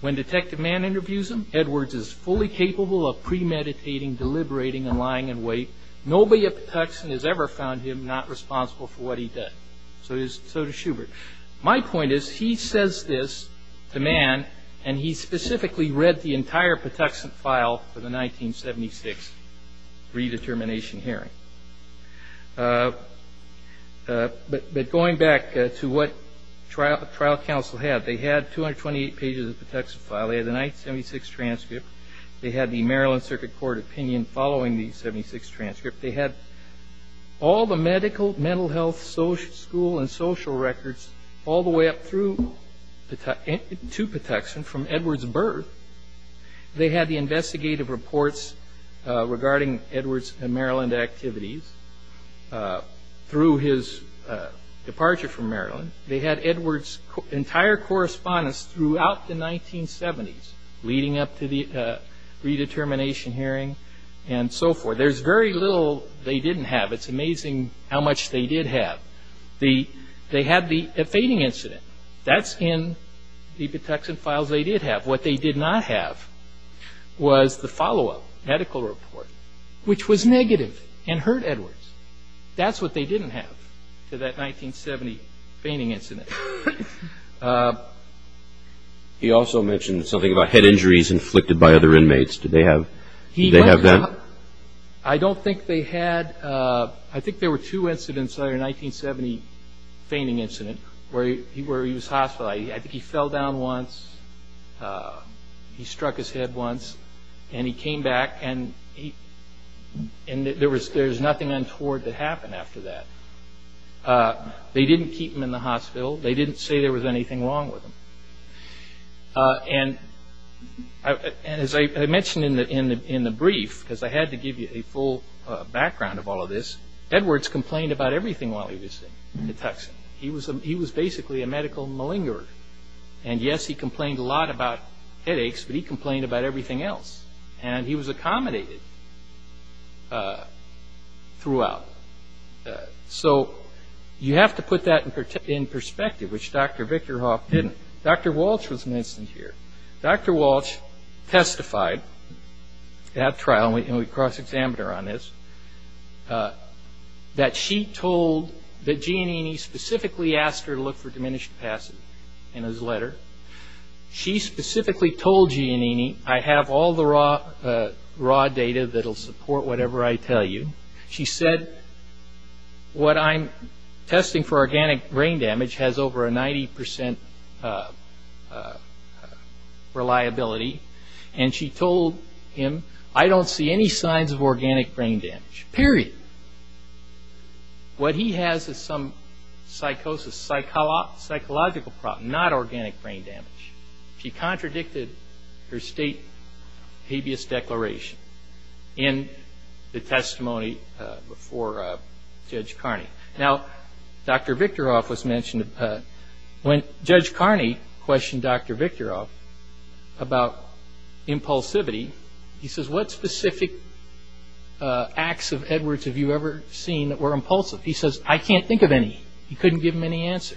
when Detective Mann interviews him? Edwards is fully capable of premeditating, deliberating, and lying in wait. Nobody at Patuxent has ever found him not responsible for what he does. So does Schubert. My point is he says this to Mann, and he specifically read the entire Patuxent file for the 1976 redetermination hearing. But going back to what trial counsel had, they had 228 pages of the Patuxent file. They had the 1976 transcript. They had the Maryland Circuit Court opinion following the 1976 transcript. They had all the medical, mental health, school, and social records all the way up through to Patuxent from Edwards' birth. They had the investigative reports regarding Edwards' Maryland activities through his departure from Maryland. They had Edwards' entire correspondence throughout the 1970s leading up to the redetermination hearing and so forth. There's very little they didn't have. It's amazing how much they did have. They had the fainting incident. That's in the Patuxent files they did have. What they did not have was the follow-up medical report, which was negative and hurt Edwards. That's what they didn't have to that 1970 fainting incident. He also mentioned something about head injuries inflicted by other inmates. Did they have that? I don't think they had. I think there were two incidents in the 1970 fainting incident where he was hospitalized. I think he fell down once. He struck his head once, and he came back. There's nothing untoward that happened after that. They didn't keep him in the hospital. They didn't say there was anything wrong with him. As I mentioned in the brief, because I had to give you a full background of all of this, Edwards complained about everything while he was in Patuxent. He was basically a medical malingerer. Yes, he complained a lot about headaches, but he complained about everything else. And he was accommodated throughout. So you have to put that in perspective, which Dr. Vickerhoff didn't. Dr. Walsh was an incident here. Dr. Walsh testified at trial, and we cross-examined her on this, that she told that Giannini specifically asked her to look for diminished passage in his letter. She specifically told Giannini, I have all the raw data that will support whatever I tell you. She said, what I'm testing for organic brain damage has over a 90% reliability. And she told him, I don't see any signs of organic brain damage, period. What he has is some psychosis, psychological problem, not organic brain damage. She contradicted her state habeas declaration in the testimony before Judge Carney. Now, Dr. Vickerhoff was mentioned. When Judge Carney questioned Dr. Vickerhoff about impulsivity, he says, what specific acts of Edwards have you ever seen that were impulsive? He says, I can't think of any. He couldn't give him any answer.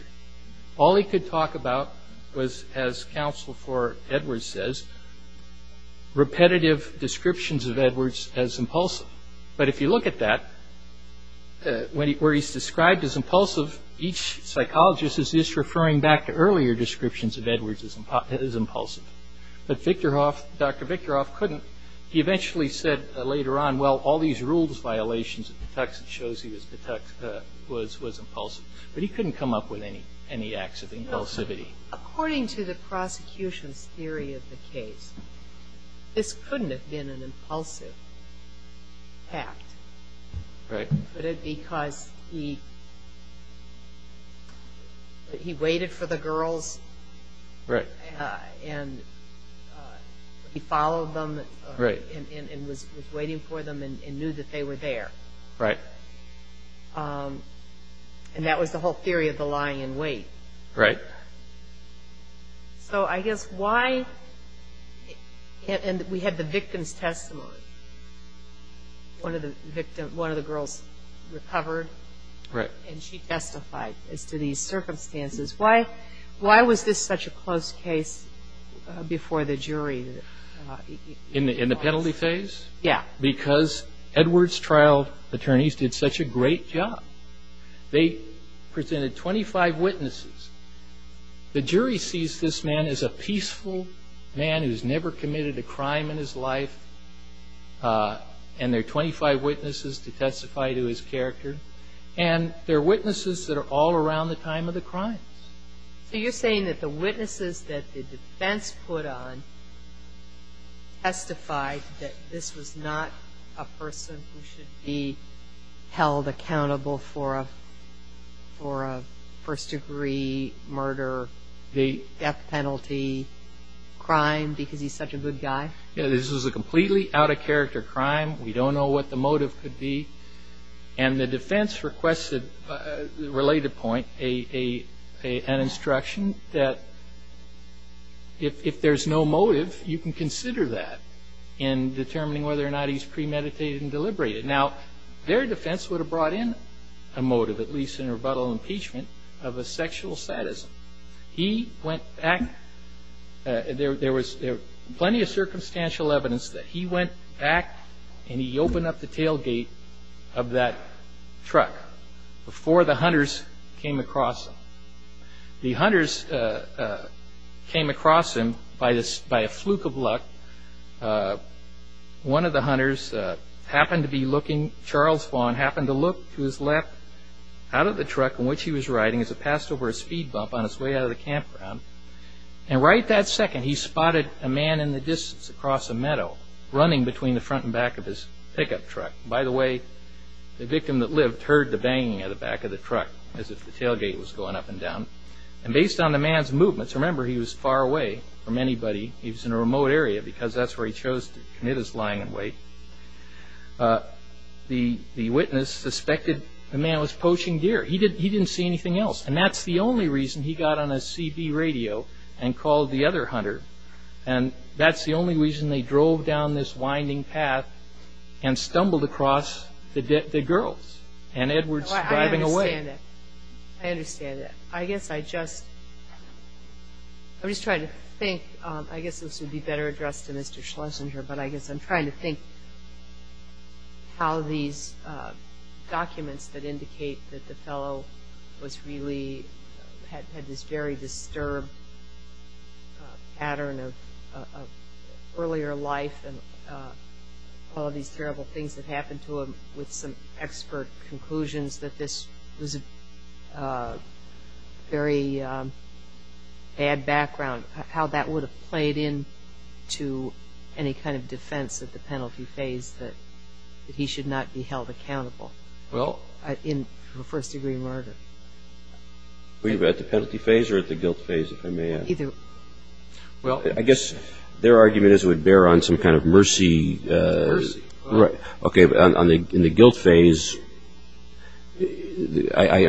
All he could talk about was, as counsel for Edwards says, repetitive descriptions of Edwards as impulsive. But if you look at that, where he's described as impulsive, each psychologist is just referring back to earlier descriptions of Edwards as impulsive. But Dr. Vickerhoff couldn't. He eventually said later on, well, all these rules, violations, it shows he was impulsive. But he couldn't come up with any acts of impulsivity. According to the prosecution's theory of the case, this couldn't have been an impulsive act. Could it be because he waited for the girls? Right. And he followed them and was waiting for them and knew that they were there. Right. And that was the whole theory of the lying in wait. Right. So I guess why – and we had the victim's testimony. One of the girls recovered. Right. And she testified as to these circumstances. Why was this such a close case before the jury? In the penalty phase? Yeah. Because Edwards' trial attorneys did such a great job. They presented 25 witnesses. The jury sees this man as a peaceful man who's never committed a crime in his life, and there are 25 witnesses to testify to his character. And there are witnesses that are all around the time of the crimes. So you're saying that the witnesses that the defense put on testified that this was not a person who should be held accountable for a first-degree murder death penalty crime because he's such a good guy? Yeah, this was a completely out-of-character crime. We don't know what the motive could be. And the defense requested a related point, an instruction that if there's no motive, you can consider that in determining whether or not he's premeditated and deliberated. Now, their defense would have brought in a motive, at least in rebuttal impeachment, of a sexual sadism. He went back – there was plenty of circumstantial evidence that he went back and he opened up the tailgate of that truck before the hunters came across him. The hunters came across him by a fluke of luck. One of the hunters happened to be looking – Charles Vaughn happened to look to his left out of the truck in which he was riding as it passed over a speed bump on its way out of the campground. And right that second, he spotted a man in the distance across a meadow, running between the front and back of his pickup truck. By the way, the victim that lived heard the banging at the back of the truck as if the tailgate was going up and down. And based on the man's movements – remember, he was far away from anybody. He was in a remote area because that's where he chose to commit his lying in wait. The witness suspected the man was poaching deer. He didn't see anything else. And that's the only reason he got on a CB radio and called the other hunter. And that's the only reason they drove down this winding path and stumbled across the girls and Edwards driving away. I understand that. I understand that. I guess I just – I'm just trying to think. I guess this would be better addressed to Mr. Schlesinger, but I guess I'm trying to think how these documents that indicate that the fellow was really – the pattern of earlier life and all of these terrible things that happened to him with some expert conclusions that this was a very bad background, how that would have played into any kind of defense at the penalty phase that he should not be held accountable for first-degree murder. Were you at the penalty phase or at the guilt phase, if I may ask? Either. Well, I guess their argument is it would bear on some kind of mercy. Mercy. Right. Okay, but in the guilt phase, if I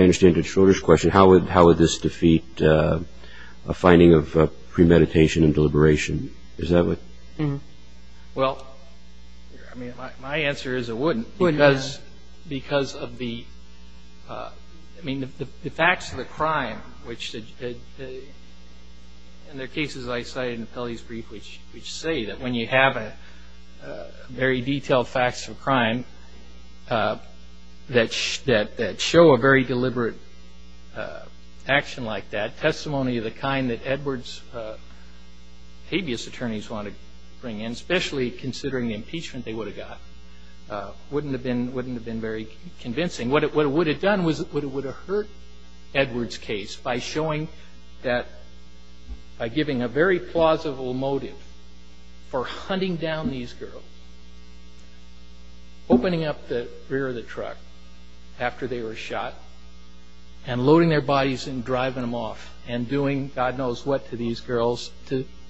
understand the controller's question, how would this defeat a finding of premeditation and deliberation? Is that what – Well, I mean, my answer is it wouldn't. Wouldn't. Because of the – I mean, the facts of the crime, which – and there are cases I cited in Pelley's brief which say that when you have very detailed facts of a crime that show a very deliberate action like that, testimony of the kind that Edwards' habeas attorneys want to bring in, especially considering the impeachment they would have got, wouldn't have been very convincing. What it would have done was it would have hurt Edwards' case by showing that – by giving a very plausible motive for hunting down these girls, opening up the rear of the truck after they were shot, and loading their bodies and driving them off, and doing God knows what to these girls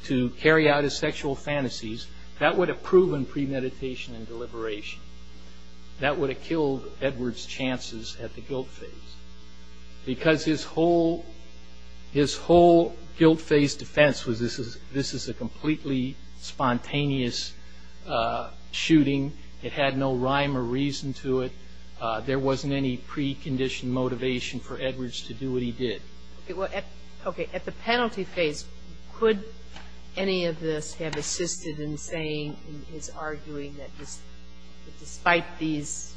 to carry out his sexual fantasies. That would have proven premeditation and deliberation. That would have killed Edwards' chances at the guilt phase. Because his whole guilt phase defense was this is a completely spontaneous shooting. It had no rhyme or reason to it. There wasn't any precondition motivation for Edwards to do what he did. Okay. At the penalty phase, could any of this have assisted in saying, in his arguing that despite these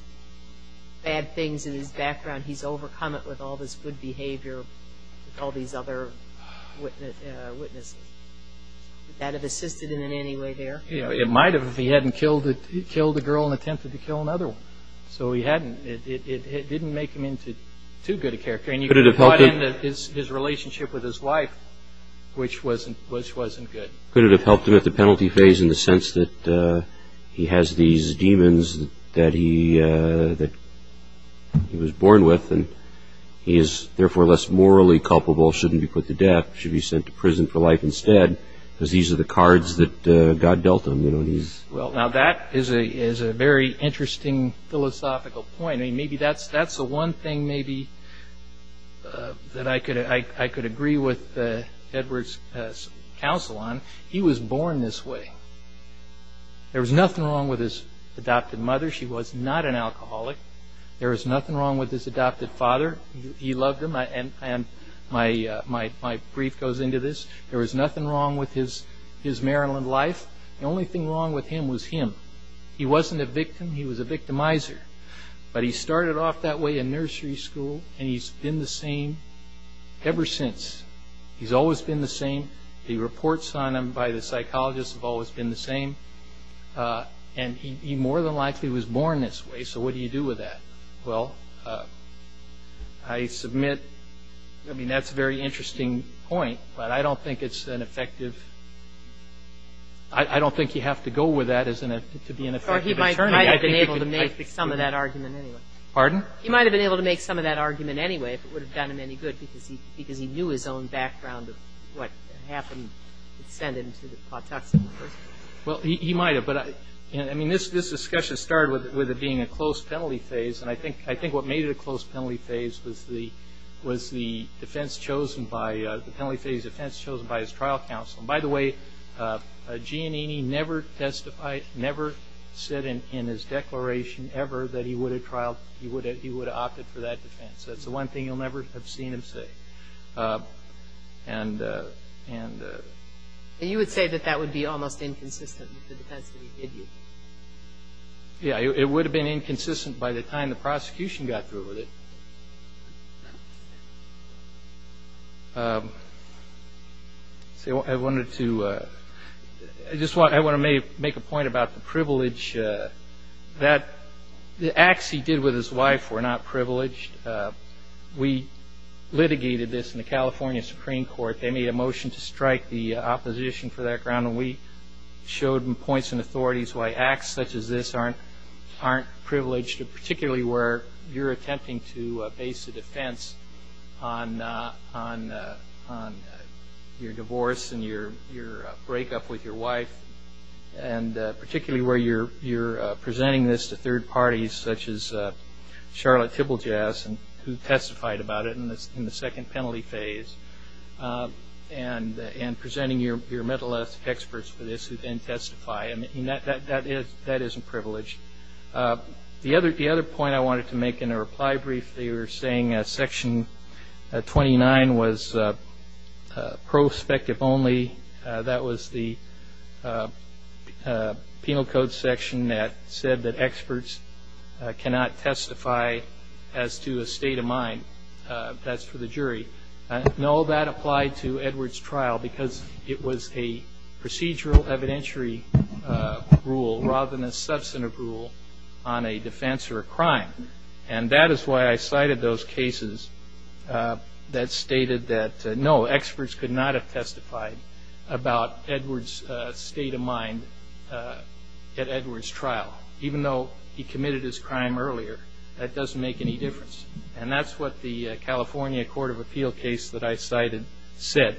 bad things in his background, he's overcome it with all this good behavior with all these other witnesses? Would that have assisted in any way there? It might have if he hadn't killed a girl and attempted to kill another one. So he hadn't. It didn't make him into too good a character. And you could have brought in his relationship with his wife, which wasn't good. Could it have helped him at the penalty phase in the sense that he has these demons that he was born with and he is therefore less morally culpable, shouldn't be put to death, should be sent to prison for life instead, because these are the cards that God dealt him. Now that is a very interesting philosophical point. That's the one thing maybe that I could agree with Edwards' counsel on. He was born this way. There was nothing wrong with his adopted mother. She was not an alcoholic. There was nothing wrong with his adopted father. He loved him, and my brief goes into this. There was nothing wrong with his Maryland life. The only thing wrong with him was him. He wasn't a victim. He was a victimizer. But he started off that way in nursery school, and he's been the same ever since. He's always been the same. The reports on him by the psychologists have always been the same. And he more than likely was born this way, so what do you do with that? Well, I submit, I mean, that's a very interesting point, but I don't think it's an effective ‑‑I don't think you have to go with that to be an effective attorney. Or he might have been able to make some of that argument anyway. Pardon? He might have been able to make some of that argument anyway if it would have done him any good because he knew his own background of what happened to send him to the Pawtuxet. Well, he might have. But, I mean, this discussion started with it being a close penalty phase, and I think what made it a close penalty phase was the defense chosen by ‑‑ the penalty phase defense chosen by his trial counsel. And, by the way, Giannini never testified, never said in his declaration ever that he would have opted for that defense. That's the one thing you'll never have seen him say. And ‑‑ And you would say that that would be almost inconsistent with the defense, would you? Yeah, it would have been inconsistent by the time the prosecution got through with it. I wanted to make a point about the privilege. The acts he did with his wife were not privileged. We litigated this in the California Supreme Court. They made a motion to strike the opposition for that ground, and we showed in points and authorities why acts such as this aren't privileged, particularly where you're attempting to base a defense on your divorce and your breakup with your wife, and particularly where you're presenting this to third parties such as Charlotte Tibblejass, who testified about it in the second penalty phase, and presenting your mental health experts for this who then testify. I mean, that isn't privileged. The other point I wanted to make in a reply brief, they were saying Section 29 was prospective only. That was the penal code section that said that experts cannot testify as to a state of mind. That's for the jury. No, that applied to Edward's trial because it was a procedural evidentiary rule rather than a substantive rule on a defense or a crime. And that is why I cited those cases that stated that, no, experts could not have testified about Edward's state of mind at Edward's trial. Even though he committed his crime earlier, that doesn't make any difference. And that's what the California Court of Appeal case that I cited said.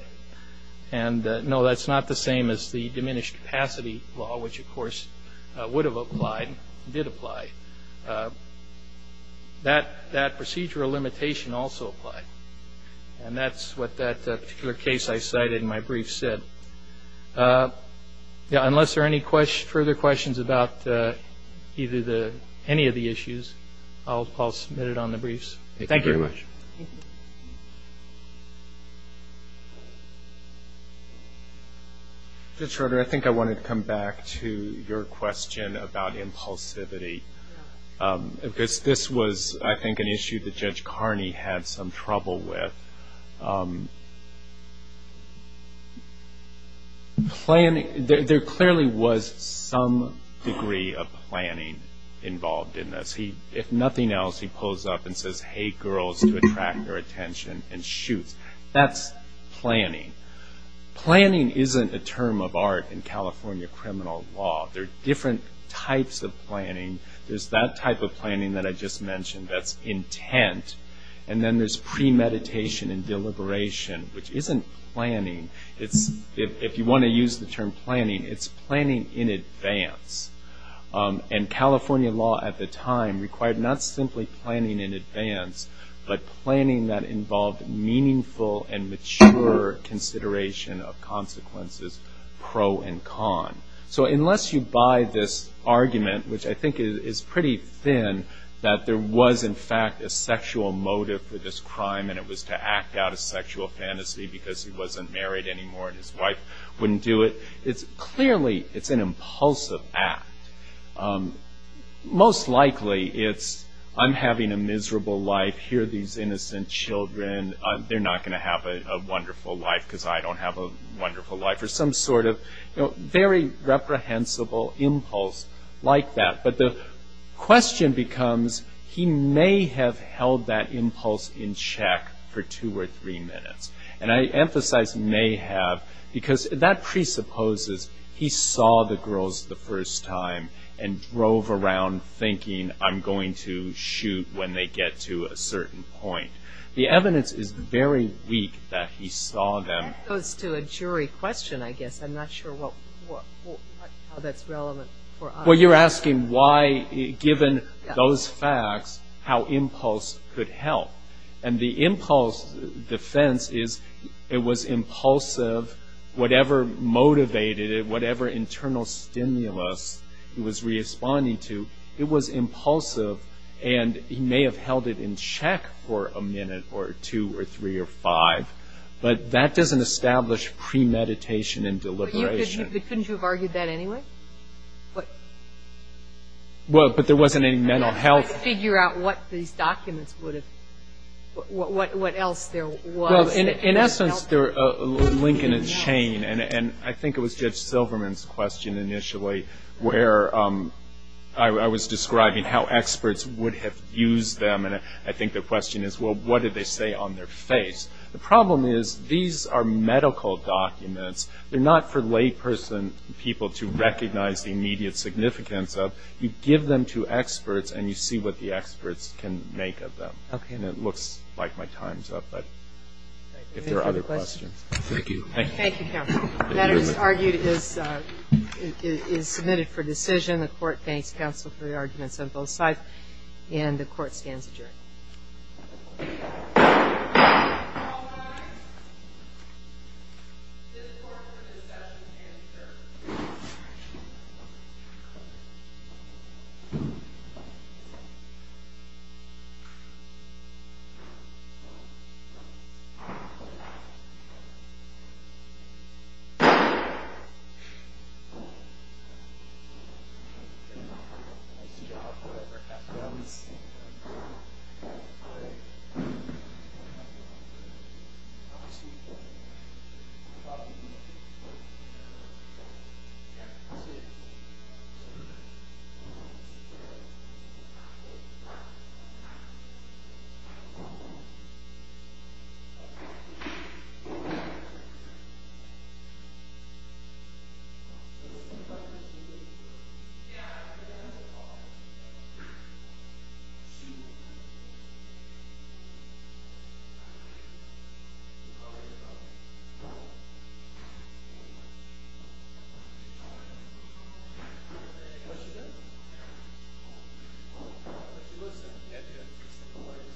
And, no, that's not the same as the diminished capacity law, which, of course, would have applied and did apply. That procedural limitation also applied. And that's what that particular case I cited in my brief said. Unless there are any further questions about any of the issues, I'll submit it on the briefs. Thank you very much. Thank you. Judge Schroeder, I think I wanted to come back to your question about impulsivity, because this was, I think, an issue that Judge Carney had some trouble with. There clearly was some degree of planning involved in this. If nothing else, he pulls up and says, hey, girls, to attract their attention and shoots. That's planning. Planning isn't a term of art in California criminal law. There are different types of planning. There's that type of planning that I just mentioned that's intent. And then there's premeditation and deliberation, which isn't planning. If you want to use the term planning, it's planning in advance. And California law at the time required not simply planning in advance, but planning that involved meaningful and mature consideration of consequences, pro and con. So unless you buy this argument, which I think is pretty thin, that there was, in fact, a sexual motive for this crime, and it was to act out a sexual fantasy because he wasn't married anymore and his wife wouldn't do it, it's clearly an impulsive act. Most likely it's, I'm having a miserable life. Here are these innocent children. They're not going to have a wonderful life because I don't have a wonderful life, or some sort of very reprehensible impulse like that. But the question becomes, he may have held that impulse in check for two or three minutes. And I emphasize may have because that presupposes he saw the girls the first time and drove around thinking, I'm going to shoot when they get to a certain point. The evidence is very weak that he saw them. That goes to a jury question, I guess. I'm not sure how that's relevant for us. Well, you're asking why, given those facts, how impulse could help. And the impulse defense is it was impulsive, whatever motivated it, whatever internal stimulus he was responding to, it was impulsive and he may have held it in check for a minute or two or three or five. But that doesn't establish premeditation and deliberation. But couldn't you have argued that anyway? Well, but there wasn't any mental health. Figure out what these documents would have, what else there was. Well, in essence, they're a link in a chain. And I think it was Judge Silverman's question initially where I was describing how experts would have used them. And I think the question is, well, what did they say on their face? The problem is these are medical documents. They're not for layperson people to recognize the immediate significance of. You give them to experts and you see what the experts can make of them. Okay. And it looks like my time's up, but if there are other questions. Thank you. Thank you, counsel. The matter, as argued, is submitted for decision. The court thanks counsel for the arguments on both sides. And the court stands adjourned. All rise. This court is adjourned. This court is adjourned. That's it. Thank you.